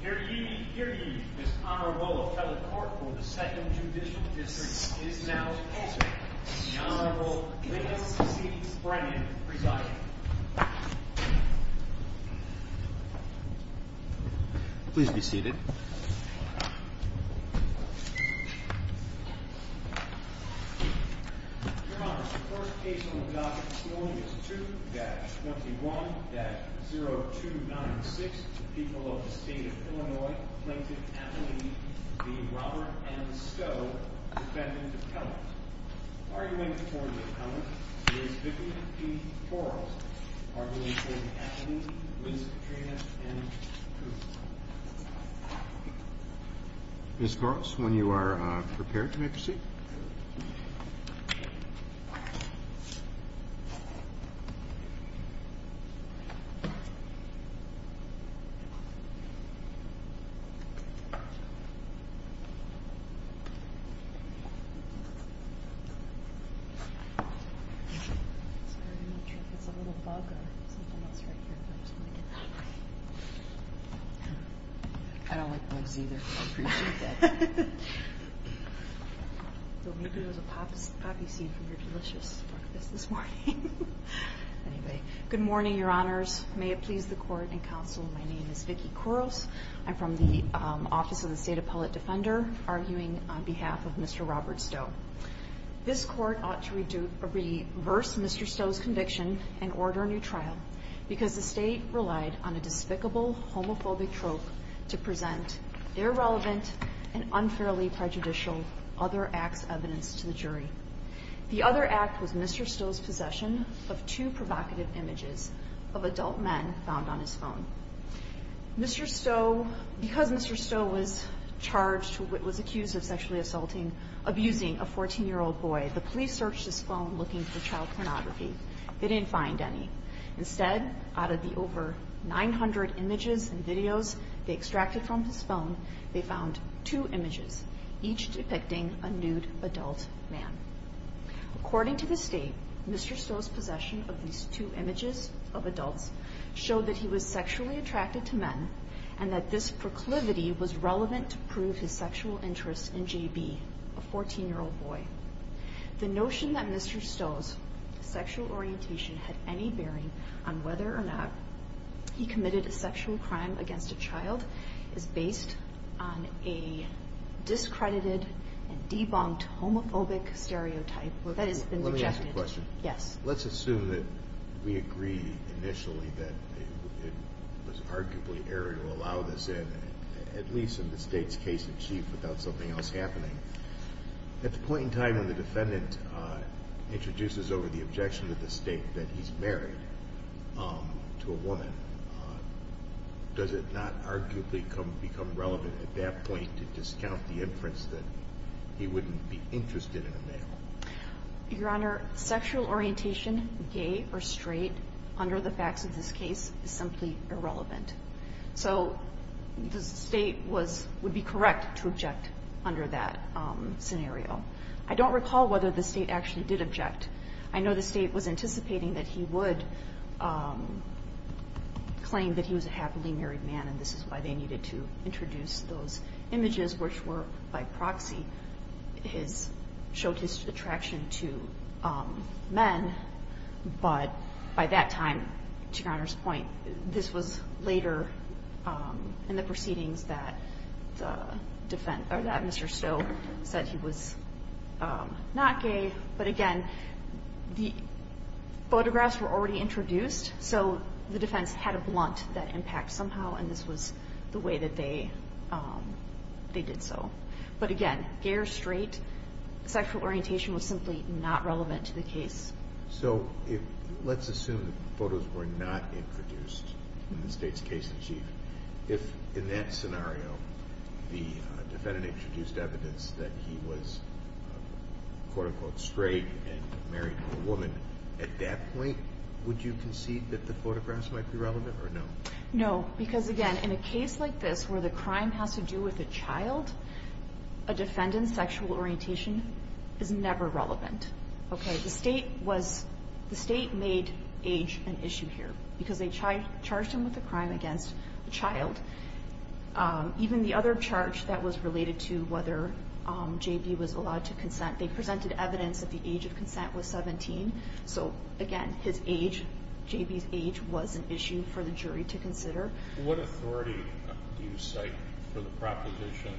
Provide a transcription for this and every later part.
Here to give you this honorable appellate court for the 2nd Judicial District is now sponsored by the Honorable Lincoln C. Brennan, presiding. Please be seated. Your Honor, the first case on the docket this morning is 2-21-0296, the people of the state of Illinois plaintiff's appellee v. Robert M. Stowe, defendant appellant. Argument for the appellant is Vicki P. Corliss, arguing for the appellee, Ms. Katrina M. Cooper. Ms. Corliss, when you are prepared, you may proceed. Good morning, Your Honors. May it please the Court and Counsel, my name is Vicki Corliss. I'm from the Office of the State Appellate Defender, arguing on behalf of Mr. Robert Stowe. This Court ought to reverse Mr. Stowe's conviction and order a new trial because the State relied on a despicable homophobic trope to present irrelevant and unfairly prejudicial other acts evidence to the jury. The other act was Mr. Stowe's possession of two provocative images of adult men found on his phone. Mr. Stowe, because Mr. Stowe was charged, was accused of sexually assaulting, abusing a 14-year-old boy, the police searched his phone looking for child pornography. They didn't find any. Instead, out of the over 900 images and videos they extracted from his phone, they found two images, each depicting a nude adult man. According to the State, Mr. Stowe's possession of these two images of adults showed that he was sexually attracted to men and that this proclivity was relevant to prove his sexual interest in JB, a 14-year-old boy. The notion that Mr. Stowe's sexual orientation had any bearing on whether or not he committed a sexual crime against a child is based on a discredited and debunked homophobic stereotype. Let me ask a question. Let's assume that we agree initially that it was arguably error to allow this in, at least in the State's case in chief, without something else happening. At the point in time when the defendant introduces over the objection to the State that he's married to a woman, does it not arguably become relevant at that point to discount the inference that he wouldn't be interested in a male? Your Honor, sexual orientation, gay or straight, under the facts of this case, is simply irrelevant. So the State was – would be correct to object under that scenario. I don't recall whether the State actually did object. I know the State was anticipating that he would claim that he was a happily married man, and this is why they needed to introduce those images, which were by proxy his – showed his attraction to men. But by that time, to Your Honor's point, this was later in the proceedings that the – or that Mr. Stowe said he was not gay. But again, the photographs were already introduced, so the defense had a blunt that impact somehow, and this was the way that they did so. But again, gay or straight, sexual orientation was simply not relevant to the case. So if – let's assume the photos were not introduced in the State's case in chief. If, in that scenario, the defendant introduced evidence that he was, quote-unquote, straight and married to a woman, at that point, would you concede that the photographs might be relevant or no? No, because again, in a case like this, where the crime has to do with a child, a defendant's sexual orientation is never relevant, okay? The State was – the State made age an issue here, because they charged him with a crime against a child. Even the other charge that was related to whether J.B. was allowed to consent, they presented evidence that the age of consent was 17. So again, his age, J.B.'s age, was an issue for the jury to consider. What authority do you cite for the proposition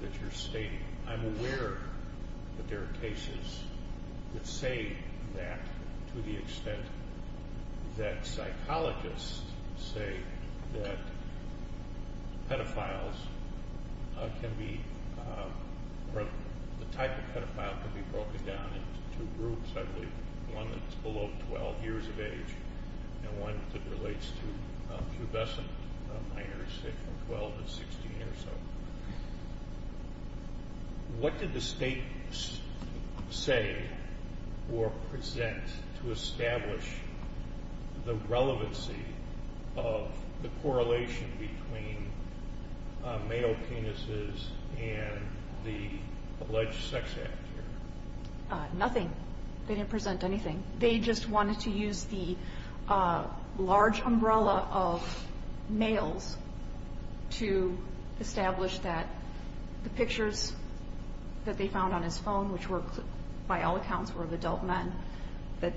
that you're stating? I'm aware that there are cases that say that, to the extent that psychologists say that pedophiles can be – or the type of pedophile can be broken down into two groups, I believe. One that's below 12 years of age, and one that relates to pubescent minors, say, from 12 to 16 or so. What did the State say or present to establish the relevancy of the correlation between male penises and the alleged sex act here? Nothing. They didn't present anything. They just wanted to use the large umbrella of males to establish that the pictures that they found on his phone, which by all accounts were of adult men, that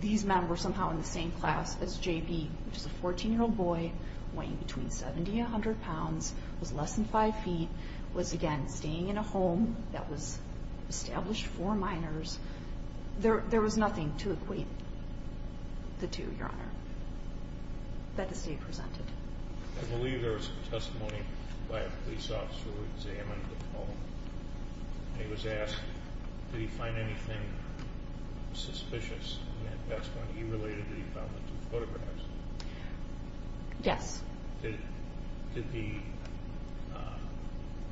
these men were somehow in the same class as J.B., which is a 14-year-old boy, weighing between 70 and 100 pounds, was less than 5 feet, was, again, staying in a home that was established for minors. There was nothing to equate the two, Your Honor, that the State presented. I believe there was testimony by a police officer who examined the phone, and he was asked, did he find anything suspicious in that testimony. He related that he found the two photographs. Yes. Did the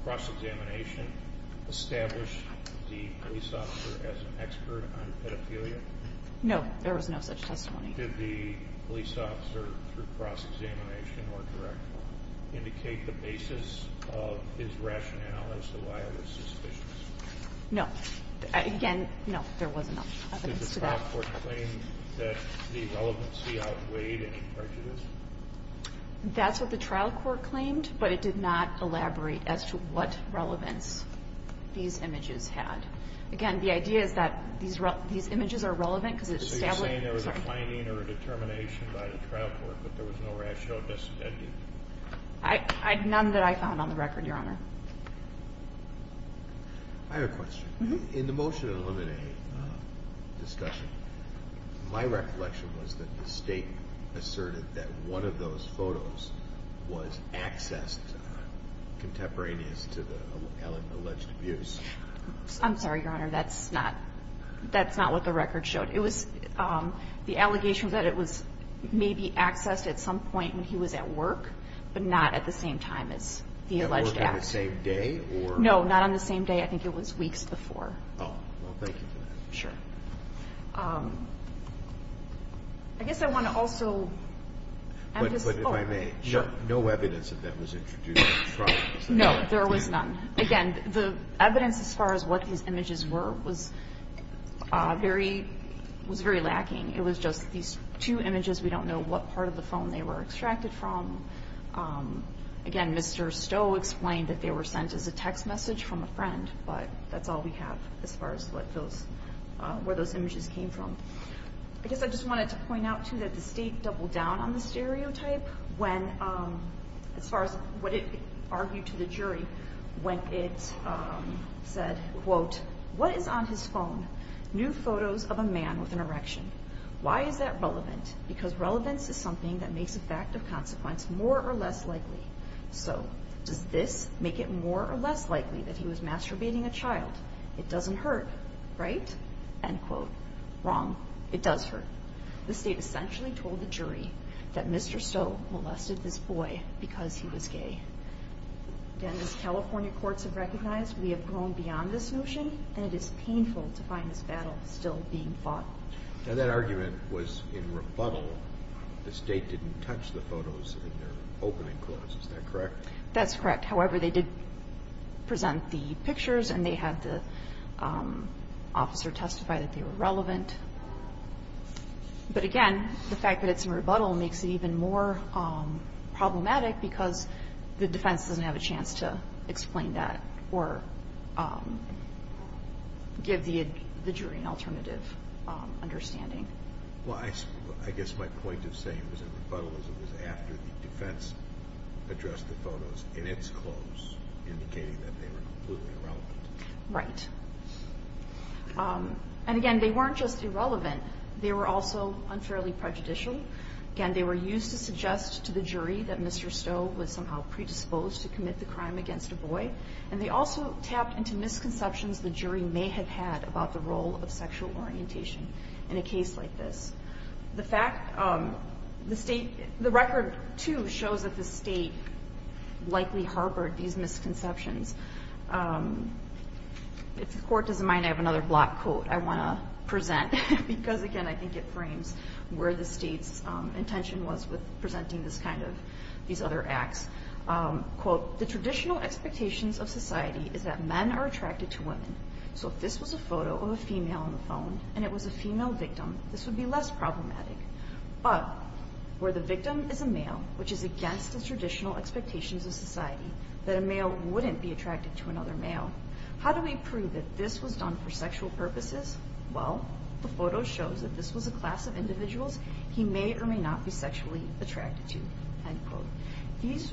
cross-examination establish the police officer as an expert on pedophilia? No, there was no such testimony. Did the police officer, through cross-examination or direct, indicate the basis of his rationale as to why it was suspicious? No. Again, no, there was no evidence to that. Did the trial court claim that the relevancy outweighed any prejudice? That's what the trial court claimed, but it did not elaborate as to what relevance these images had. Again, the idea is that these images are relevant because it established... So you're saying there was a claiming or a determination by the trial court, but there was no rational disintending? None that I found on the record, Your Honor. I have a question. In the motion to eliminate discussion, my reflection was that the State asserted that one of those photos was accessed contemporaneous to the alleged abuse. I'm sorry, Your Honor. That's not what the record showed. It was the allegation that it was maybe accessed at some point when he was at work, but not at the same time as the alleged act. At work on the same day or... No, not on the same day. I think it was weeks before. Oh. Well, thank you for that. Sure. I guess I want to also... But if I may. Sure. No evidence of that was introduced in the trial? No. There was none. Again, the evidence as far as what these images were was very lacking. It was just these two images. We don't know what part of the phone they were extracted from. Again, Mr. Stowe explained that they were sent as a text message from a friend, but that's all we have as far as where those images came from. I guess I just wanted to point out, too, that the state doubled down on the stereotype as far as what it argued to the jury when it said, quote, What is on his phone? New photos of a man with an erection. Why is that relevant? Because relevance is something that makes a fact of consequence more or less likely. So does this make it more or less likely that he was masturbating a child? It doesn't hurt, right? End quote. Wrong. It does hurt. The state essentially told the jury that Mr. Stowe molested this boy because he was gay. Again, as California courts have recognized, we have gone beyond this notion, and it is painful to find this battle still being fought. Now, that argument was in rebuttal. The state didn't touch the photos in their opening clause. Is that correct? That's correct. However, they did present the pictures, and they had the officer testify that they were relevant. But, again, the fact that it's in rebuttal makes it even more problematic because the defense doesn't have a chance to explain that or give the jury an alternative understanding. Well, I guess my point of saying it was in rebuttal is it was after the defense addressed the photos in its clause indicating that they were completely irrelevant. Right. And, again, they weren't just irrelevant. They were also unfairly prejudicial. Again, they were used to suggest to the jury that Mr. Stowe was somehow predisposed to commit the crime against a boy, and they also tapped into misconceptions the jury may have had about the role of sexual orientation in a case like this. The record, too, shows that the state likely harbored these misconceptions. If the court doesn't mind, I have another block quote I want to present because, again, I think it frames where the state's intention was with presenting these other acts. Quote, So if this was a photo of a female on the phone and it was a female victim, this would be less problematic. But where the victim is a male, which is against the traditional expectations of society, that a male wouldn't be attracted to another male, how do we prove that this was done for sexual purposes? Well, the photo shows that this was a class of individuals he may or may not be sexually attracted to. End quote.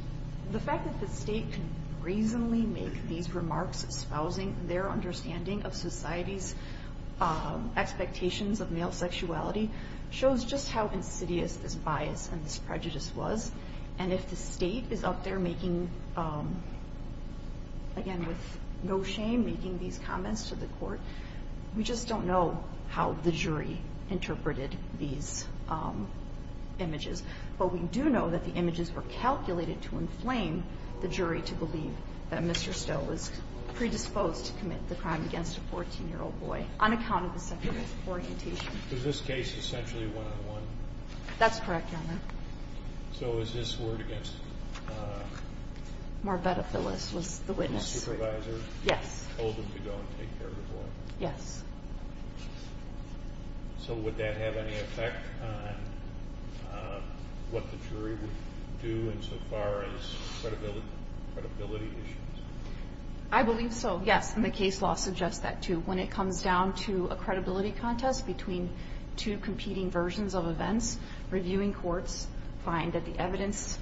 The fact that the state can reasonably make these remarks espousing their understanding of society's expectations of male sexuality shows just how insidious this bias and this prejudice was. And if the state is out there making, again, with no shame, making these comments to the court, we just don't know how the jury interpreted these images. But we do know that the images were calculated to inflame the jury to believe that Mr. Stowe was predisposed to commit the crime against a 14-year-old boy on account of the sexual orientation. Is this case essentially one-on-one? That's correct, Your Honor. So is this word against? Marbetta Phyllis was the witness. The supervisor? Yes. Told him to go and take care of the boy? Yes. So would that have any effect on what the jury would do insofar as credibility issues? I believe so, yes. And the case law suggests that, too. When it comes down to a credibility contest between two competing versions of events, reviewing courts find that the evidence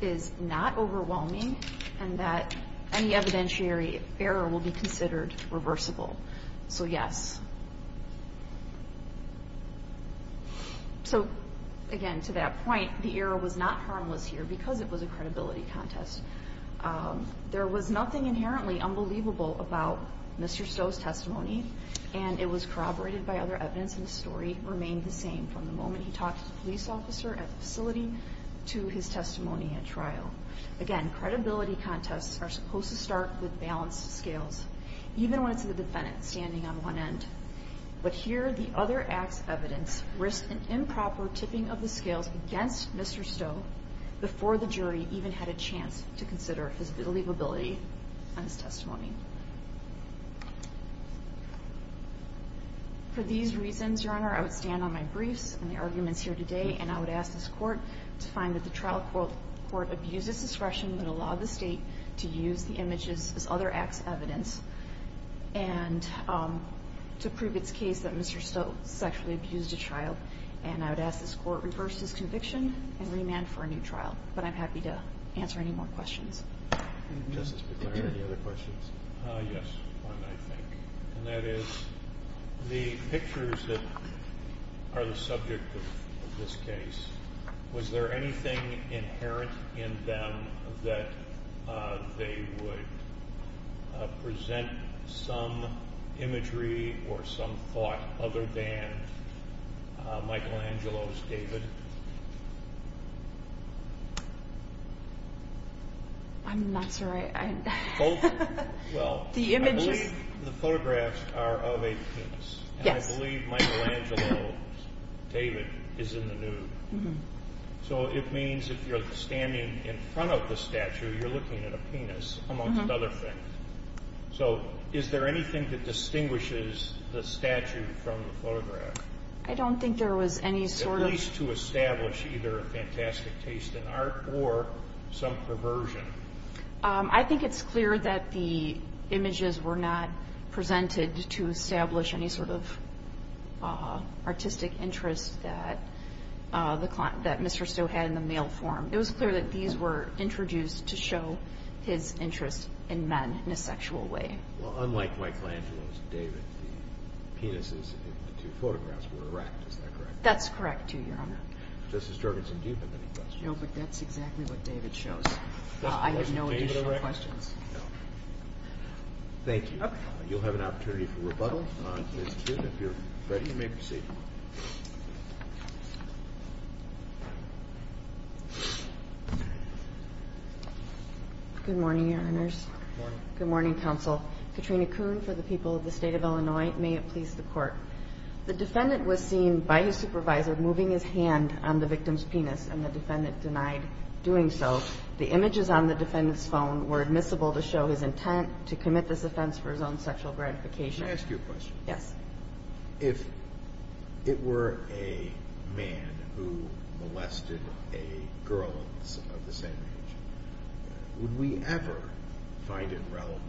is not overwhelming and that any evidentiary error will be considered reversible. So, yes. So, again, to that point, the error was not harmless here because it was a credibility contest. There was nothing inherently unbelievable about Mr. Stowe's testimony, and it was corroborated by other evidence, and the story remained the same from the moment he talked to the police officer at the facility to his testimony at trial. Again, credibility contests are supposed to start with balanced scales. Even when it's the defendant standing on one end. But here, the other act's evidence risked an improper tipping of the scales against Mr. Stowe before the jury even had a chance to consider his believability on his testimony. For these reasons, Your Honor, I would stand on my briefs and the arguments here today, and I would ask this Court to find that the trial court abuses discretion to use the images as other act's evidence and to prove its case that Mr. Stowe sexually abused a child. And I would ask this Court reverse this conviction and remand for a new trial. But I'm happy to answer any more questions. Justice McClure, any other questions? Yes, one, I think. And that is, the pictures that are the subject of this case, was there anything inherent in them that they would present some imagery or some thought other than Michelangelo's David? I'm not sure I... Well, I believe the photographs are of a penis. Yes. And I believe Michelangelo's David is in the nude. So it means if you're standing in front of the statue, you're looking at a penis, amongst other things. So is there anything that distinguishes the statue from the photograph? I don't think there was any sort of... At least to establish either a fantastic taste in art or some perversion. I think it's clear that the images were not presented to establish any sort of artistic interest that Mr. Stowe had in the male form. It was clear that these were introduced to show his interest in men in a sexual way. Well, unlike Michelangelo's David, the penises in the two photographs were erect, is that correct? That's correct, Your Honor. Justice Jorgensen-Dupin, any questions? No, but that's exactly what David shows. I have no additional questions. Thank you. You'll have an opportunity for rebuttal. Ms. Kuhn, if you're ready, you may proceed. Good morning, Your Honors. Good morning. Good morning, Counsel. Katrina Kuhn for the people of the State of Illinois. May it please the Court. The defendant was seen by his supervisor moving his hand on the victim's penis, and the defendant denied doing so. The images on the defendant's phone were admissible to show his intent to commit this offense for his own sexual gratification. May I ask you a question? Yes. If it were a man who molested a girl of the same age, would we ever find it relevant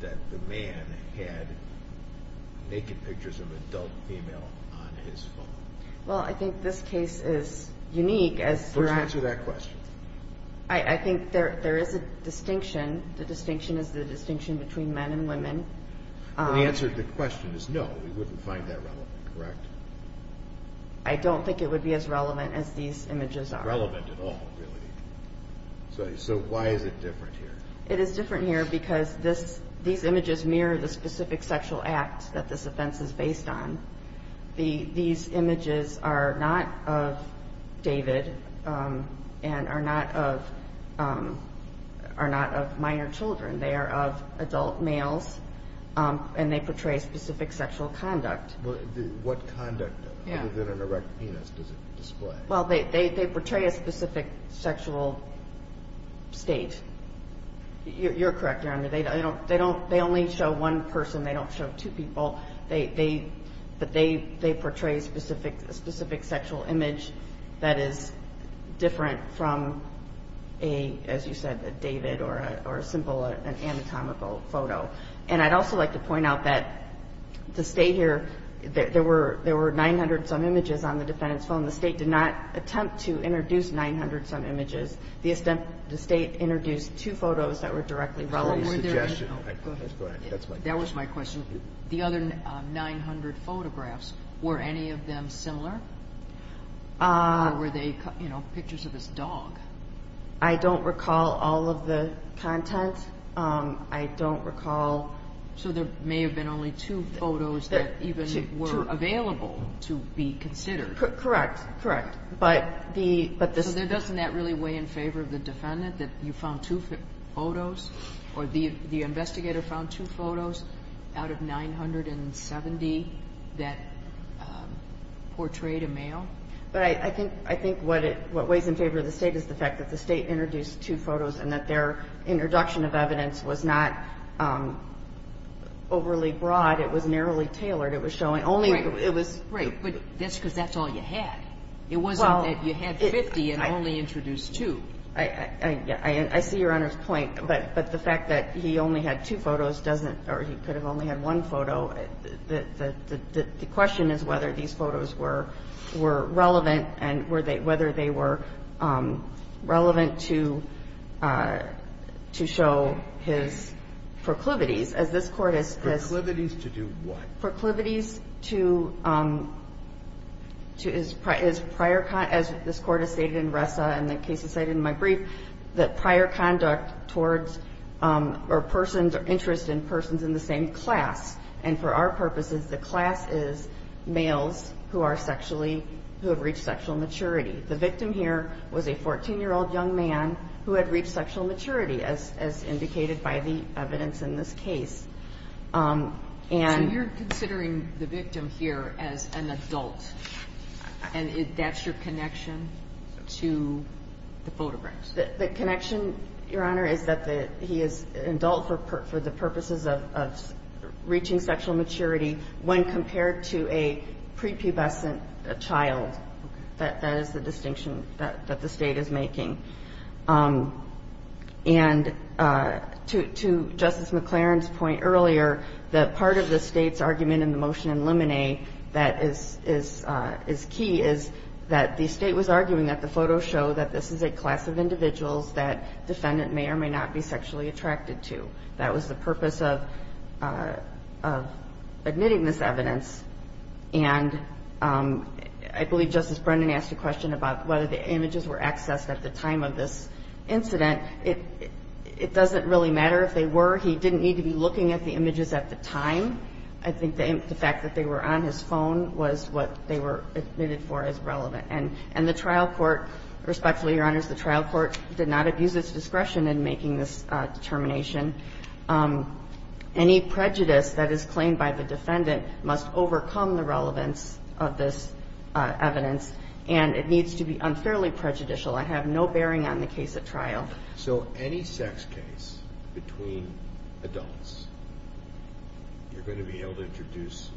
that the man had naked pictures of an adult female on his phone? Well, I think this case is unique. First answer that question. I think there is a distinction. The distinction is the distinction between men and women. The answer to the question is no, we wouldn't find that relevant, correct? I don't think it would be as relevant as these images are. Relevant at all, really. So why is it different here? It is different here because these images mirror the specific sexual act that this offense is based on. These images are not of David and are not of minor children. They are of adult males, and they portray a specific sexual conduct. What conduct other than an erect penis does it display? Well, they portray a specific sexual state. You're correct, Your Honor. They only show one person. They don't show two people. They portray a specific sexual image that is different from a, as you said, a David or a simple anatomical photo. And I'd also like to point out that the State here, there were 900-some images on the defendant's phone. The State did not attempt to introduce 900-some images. The State introduced two photos that were directly relevant. That was my question. The other 900 photographs, were any of them similar? Or were they, you know, pictures of his dog? I don't recall all of the content. I don't recall. So there may have been only two photos that even were available to be considered. Correct, correct. So doesn't that really weigh in favor of the defendant, that you found two photos, or the investigator found two photos out of 970 that portrayed a male? But I think what weighs in favor of the State is the fact that the State introduced two photos and that their introduction of evidence was not overly broad. It was narrowly tailored. Right, but that's because that's all you had. It wasn't that you had 50 and only introduced two. I see Your Honor's point, but the fact that he only had two photos doesn't, or he could have only had one photo, the question is whether these photos were relevant and were they, whether they were relevant to show his proclivities, as this Court has said. Proclivities to do what? Proclivities to his prior, as this Court has stated in Ressa and the cases cited in my brief, that prior conduct towards or persons or interest in persons in the same class. And for our purposes, the class is males who are sexually, who have reached sexual maturity. The victim here was a 14-year-old young man who had reached sexual maturity, as indicated by the evidence in this case. So you're considering the victim here as an adult, and that's your connection to the photographs? The connection, Your Honor, is that he is an adult for the purposes of reaching sexual maturity when compared to a prepubescent child. That is the distinction that the State is making. And to Justice McLaren's point earlier, the part of the State's argument in the motion in Lemonet that is key is that the State was arguing that the photos show that this is a class of individuals that defendant may or may not be sexually attracted to. That was the purpose of admitting this evidence. And I believe Justice Brennan asked a question about whether the images were accessed at the time of this incident. It doesn't really matter if they were. He didn't need to be looking at the images at the time. I think the fact that they were on his phone was what they were admitted for as relevant. And the trial court, respectfully, Your Honors, the trial court did not abuse its discretion in making this determination. Any prejudice that is claimed by the defendant must overcome the relevance of this evidence, and it needs to be unfairly prejudicial. I have no bearing on the case at trial. So any sex case between adults, you're going to be able to introduce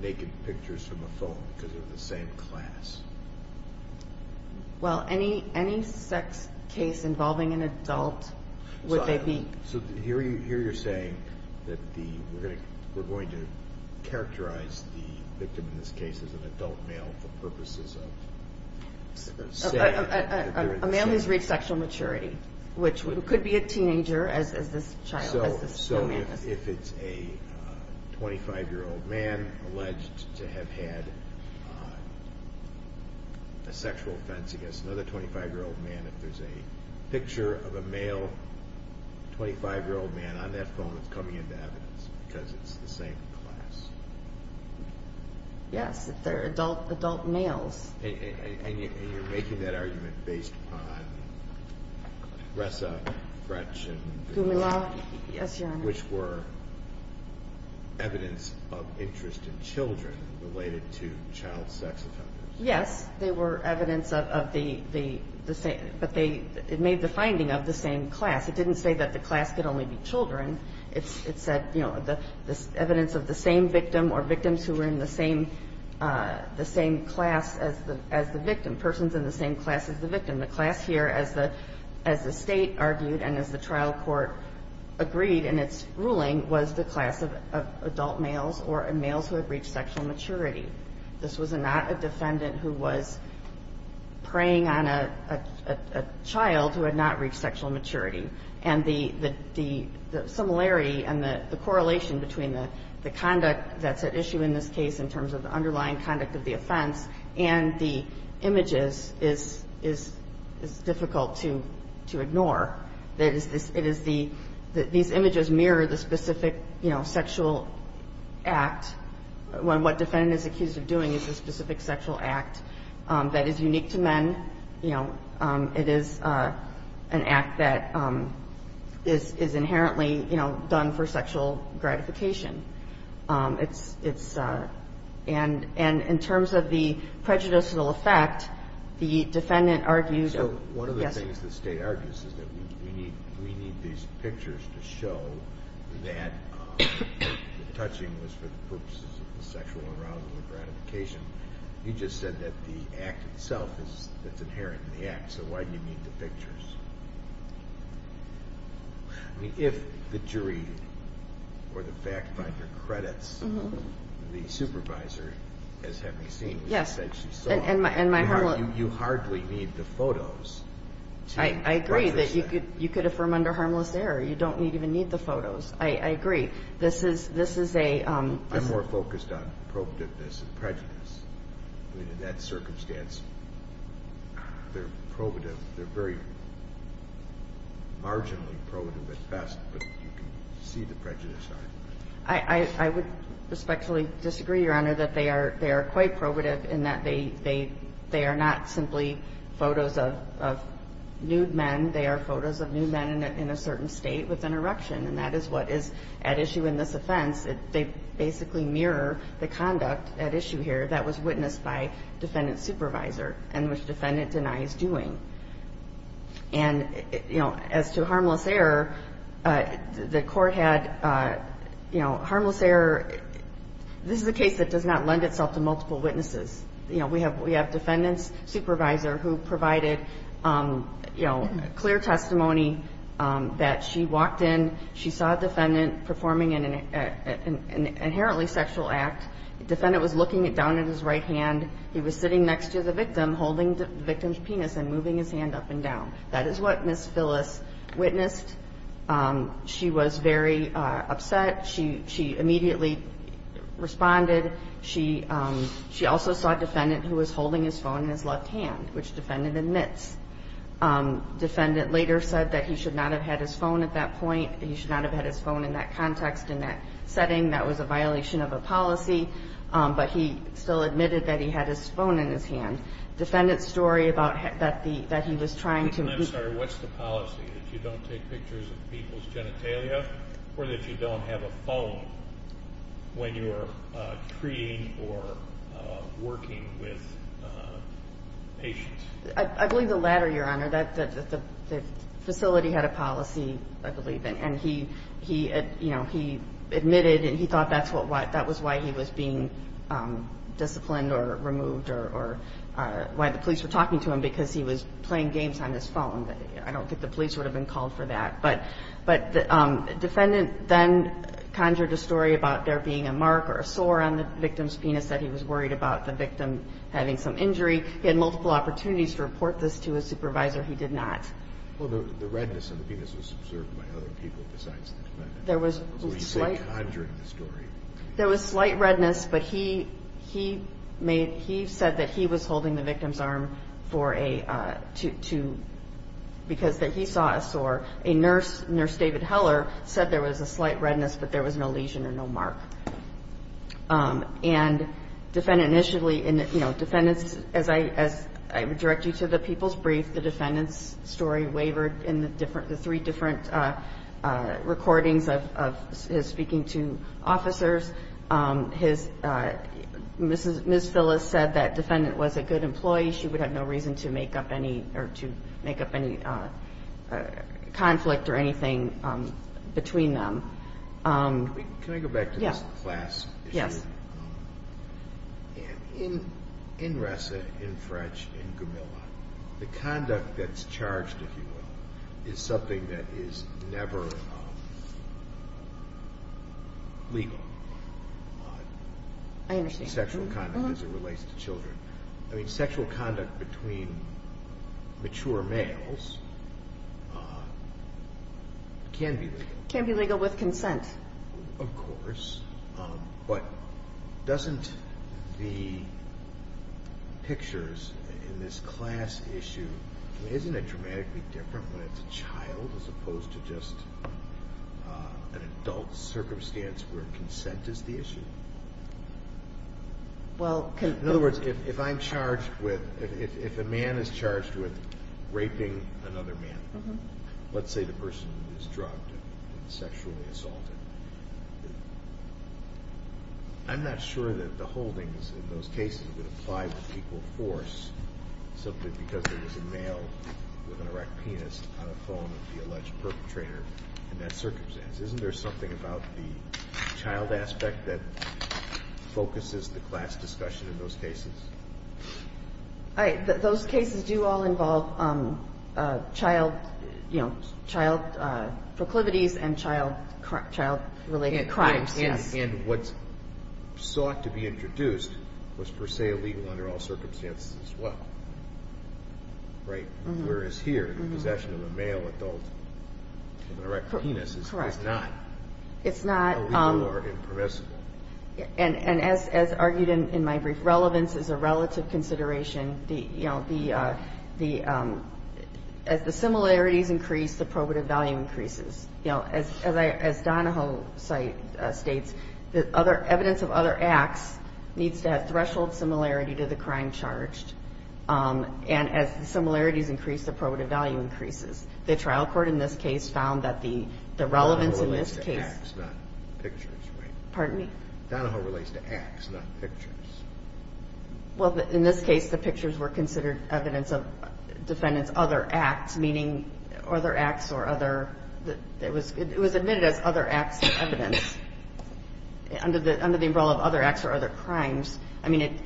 naked pictures from the phone because they're the same class? Well, any sex case involving an adult would they be? So here you're saying that we're going to characterize the victim in this case as an adult male for purposes of saying that they're the same? A male who's reached sexual maturity, which could be a teenager as this child, as this young man is. So if it's a 25-year-old man alleged to have had a sexual offense against another 25-year-old man, if there's a picture of a male 25-year-old man on that phone, it's coming into evidence because it's the same class? Yes. They're adult males. And you're making that argument based on Ressa, Fretch, and Goumila. Goumila, yes, Your Honor. Which were evidence of interest in children related to child sex offenders. Yes. They were evidence of the same. But they made the finding of the same class. It didn't say that the class could only be children. It said, you know, evidence of the same victim or victims who were in the same class as the victim, persons in the same class as the victim. The class here, as the State argued and as the trial court agreed in its ruling, was the class of adult males or males who had reached sexual maturity. This was not a defendant who was preying on a child who had not reached sexual maturity. And the similarity and the correlation between the conduct that's at issue in this case in terms of the underlying conduct of the offense and the images is difficult to ignore. It is the – these images mirror the specific, you know, sexual act, when what defendant is accused of doing is a specific sexual act that is unique to men. You know, it is an act that is inherently, you know, done for sexual gratification. It's – and in terms of the prejudicial effect, the defendant argues – So one of the things the State argues is that we need these pictures to show that the touching was for the purposes of the sexual arousal or gratification. You just said that the act itself is – that's inherent in the act. So why do you need the pictures? I mean, if the jury or the fact finder credits the supervisor as having seen what she said she saw, you hardly need the photos to – I agree that you could affirm under harmless error. You don't even need the photos. I agree. This is a – I'm more focused on probativeness and prejudice. I mean, in that circumstance, they're probative. They're very marginally probative at best, but you can see the prejudice. I would respectfully disagree, Your Honor, that they are quite probative in that they are not simply photos of nude men. They are photos of nude men in a certain state with an erection, and that is what is at issue in this offense. They basically mirror the conduct at issue here that was witnessed by defendant supervisor and which defendant denies doing. And, you know, as to harmless error, the court had, you know, harmless error – this is a case that does not lend itself to multiple witnesses. You know, we have defendant's supervisor who provided, you know, clear testimony that she walked in, she saw a defendant performing an inherently sexual act. The defendant was looking down at his right hand. He was sitting next to the victim, holding the victim's penis and moving his hand up and down. That is what Ms. Phyllis witnessed. She was very upset. She immediately responded. She also saw a defendant who was holding his phone in his left hand, which defendant admits. Defendant later said that he should not have had his phone at that point. He should not have had his phone in that context, in that setting. That was a violation of a policy, but he still admitted that he had his phone in his hand. Defendant's story about that he was trying to – I'm sorry, what's the policy, that you don't take pictures of people's genitalia or that you don't have a phone when you are treating or working with patients? I believe the latter, Your Honor. The facility had a policy, I believe, and he admitted and he thought that was why he was being disciplined or removed or why the police were talking to him because he was playing games on his phone. I don't think the police would have been called for that. But the defendant then conjured a story about there being a mark or a sore on the victim's penis, that he was worried about the victim having some injury. He had multiple opportunities to report this to his supervisor. He did not. Well, the redness on the penis was observed by other people besides the defendant. So he said conjuring the story. There was slight redness, but he said that he was holding the victim's arm because he saw a sore. A nurse, Nurse David Heller, said there was a slight redness, but there was no lesion or no mark. And defendant initially, as I would direct you to the people's brief, the defendant's story wavered in the three different recordings of his speaking to officers. Ms. Phyllis said that defendant was a good employee. She would have no reason to make up any conflict or anything between them. Can I go back to this class issue? Yes. In Ressa, in French, in Gumilla, the conduct that's charged, if you will, is something that is never legal. I understand. Sexual conduct as it relates to children. I mean, sexual conduct between mature males can be legal. Can be legal with consent. Of course, but doesn't the pictures in this class issue, isn't it dramatically different when it's a child as opposed to just an adult circumstance where consent is the issue? In other words, if I'm charged with, if a man is charged with raping another man, let's say the person is drugged and sexually assaulted, I'm not sure that the holdings in those cases would apply with equal force simply because there was a male with an erect penis on the phone of the alleged perpetrator in that circumstance. Isn't there something about the child aspect that focuses the class discussion in those cases? Those cases do all involve child proclivities and child-related crimes. And what sought to be introduced was per se illegal under all circumstances as well, right? Whereas here, the possession of a male adult with an erect penis is not illegal or impermissible. And as argued in my brief, relevance is a relative consideration. As the similarities increase, the probative value increases. As Donahoe states, evidence of other acts needs to have threshold similarity to the crime charged. And as the similarities increase, the probative value increases. The trial court in this case found that the relevance in this case – Donahoe relates to acts, not pictures, right? Pardon me? Donahoe relates to acts, not pictures. Well, in this case, the pictures were considered evidence of defendant's other acts, meaning other acts or other – it was admitted as other acts of evidence under the umbrella of other acts or other crimes. I mean,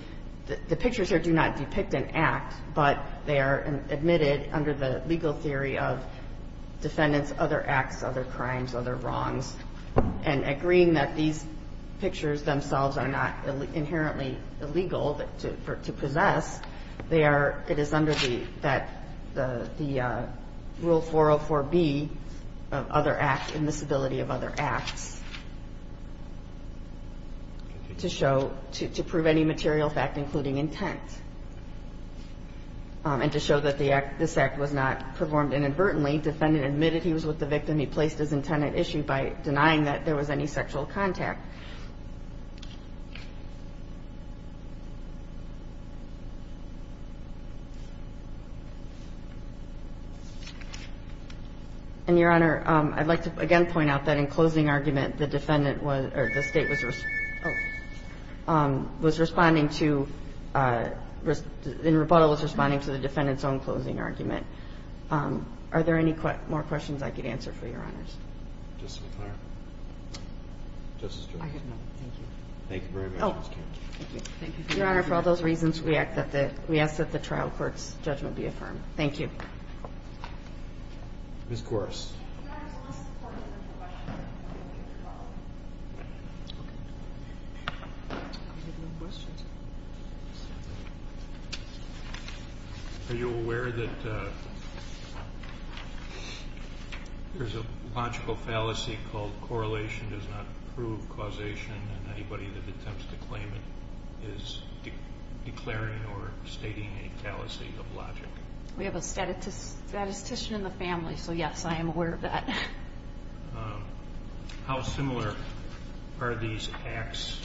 the pictures here do not depict an act, but they are admitted under the legal theory of defendants' other acts, other crimes, other wrongs. And agreeing that these pictures themselves are not inherently illegal to possess, they are – the rule 404B of other acts and the stability of other acts to show – to prove any material fact, including intent, and to show that the act – this act was not performed inadvertently. Defendant admitted he was with the victim. And your Honor, I'd like to again point out that in closing argument, the defendant was – or the State was – was responding to – in rebuttal, was responding to the defendant's own closing argument. Are there any more questions I could answer for you? Thank you, Your Honors. Justice McClaren. Justice Jones. I have none. Thank you. Thank you very much, Ms. Kagan. Oh, thank you. Thank you. Your Honor, for all those reasons, we ask that the – we ask that the trial court's judgment be affirmed. Thank you. Ms. Gores. Your Honor, there's a list of questions. I have a question. Okay. I have no questions. Are you aware that there's a logical fallacy called correlation does not prove causation, and anybody that attempts to claim it is declaring or stating a fallacy of logic? We have a statistician in the family, so yes, I am aware of that. How similar are these acts,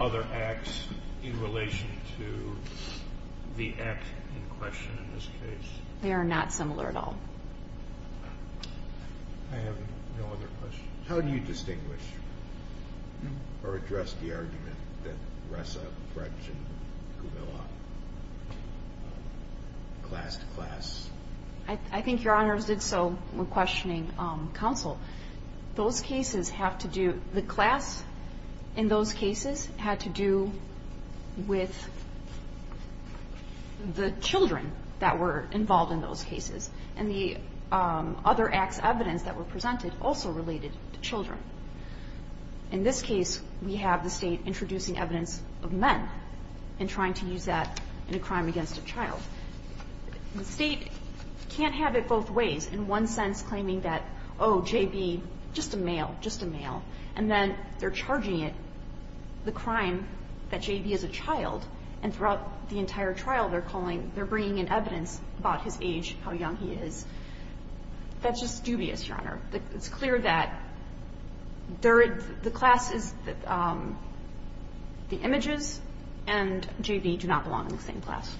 other acts, in relation to the act in question in this case? They are not similar at all. I have no other questions. How do you distinguish or address the argument that Ressa, Fretch, and Kubilla classed class? I think Your Honor did so when questioning counsel. Those cases have to do – the class in those cases had to do with the children that were involved in those cases, and the other acts of evidence that were presented also related to children. In this case, we have the State introducing evidence of men and trying to use that in a crime against a child. The State can't have it both ways, in one sense claiming that, oh, J.B., just a male, just a male, and then they're charging it, the crime, that J.B. is a child, and throughout the entire trial they're calling – they're bringing in evidence about his age, how young he is. That's just dubious, Your Honor. It's clear that the class is the images, and J.B. do not belong in the same class.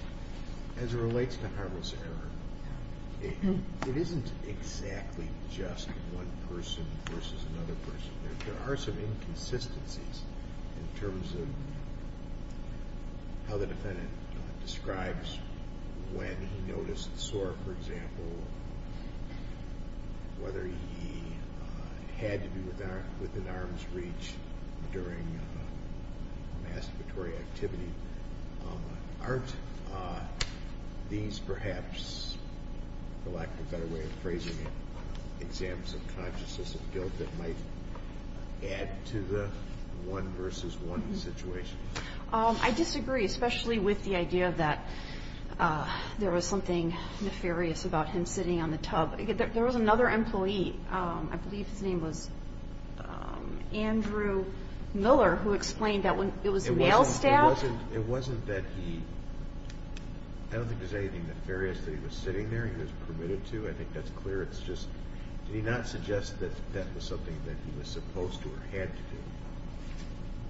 As it relates to harmless error, it isn't exactly just one person versus another person. There are some inconsistencies in terms of how the defendant describes when he noticed sore, for example, whether he had to be within arm's reach during a masturbatory activity. Aren't these perhaps, for lack of a better way of phrasing it, examples of consciousness of guilt that might add to the one versus one situation? I disagree, especially with the idea that there was something nefarious about him sitting on the tub. There was another employee, I believe his name was Andrew Miller, who explained that it was male staff. It wasn't that he – I don't think there's anything nefarious that he was sitting there, he was permitted to. I think that's clear. It's just – did he not suggest that that was something that he was supposed to or had to do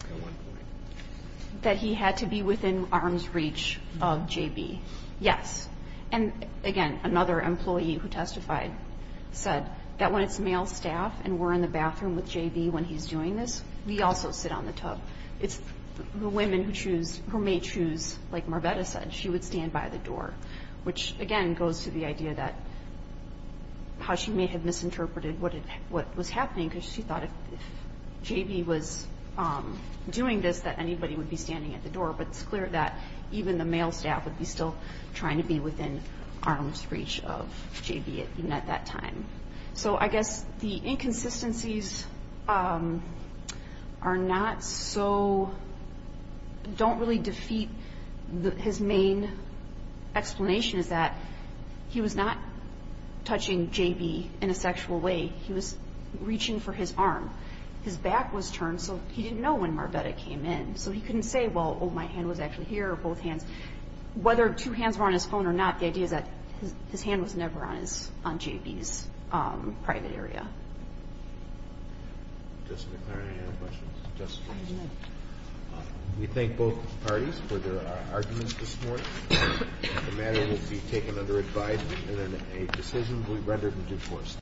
at one point? That he had to be within arm's reach of J.B., yes. And, again, another employee who testified said that when it's male staff and we're in the bathroom with J.B. when he's doing this, we also sit on the tub. It's the women who choose – who may choose, like Marvetta said, she would stand by the door, which, again, goes to the idea that – how she may have misinterpreted what was happening because she thought if J.B. was doing this that anybody would be standing at the door. But it's clear that even the male staff would be still trying to be within arm's reach of J.B. even at that time. So I guess the inconsistencies are not so – don't really defeat his main explanation is that he was not touching J.B. in a sexual way. He was reaching for his arm. His back was turned, so he didn't know when Marvetta came in. So he couldn't say, well, my hand was actually here or both hands. Whether two hands were on his phone or not, the idea is that his hand was never on J.B.'s private area. Justice McClary, any other questions? Justice Ginsburg? We thank both parties for their arguments this morning. The matter will be taken under advisement and a decision will be rendered in due course.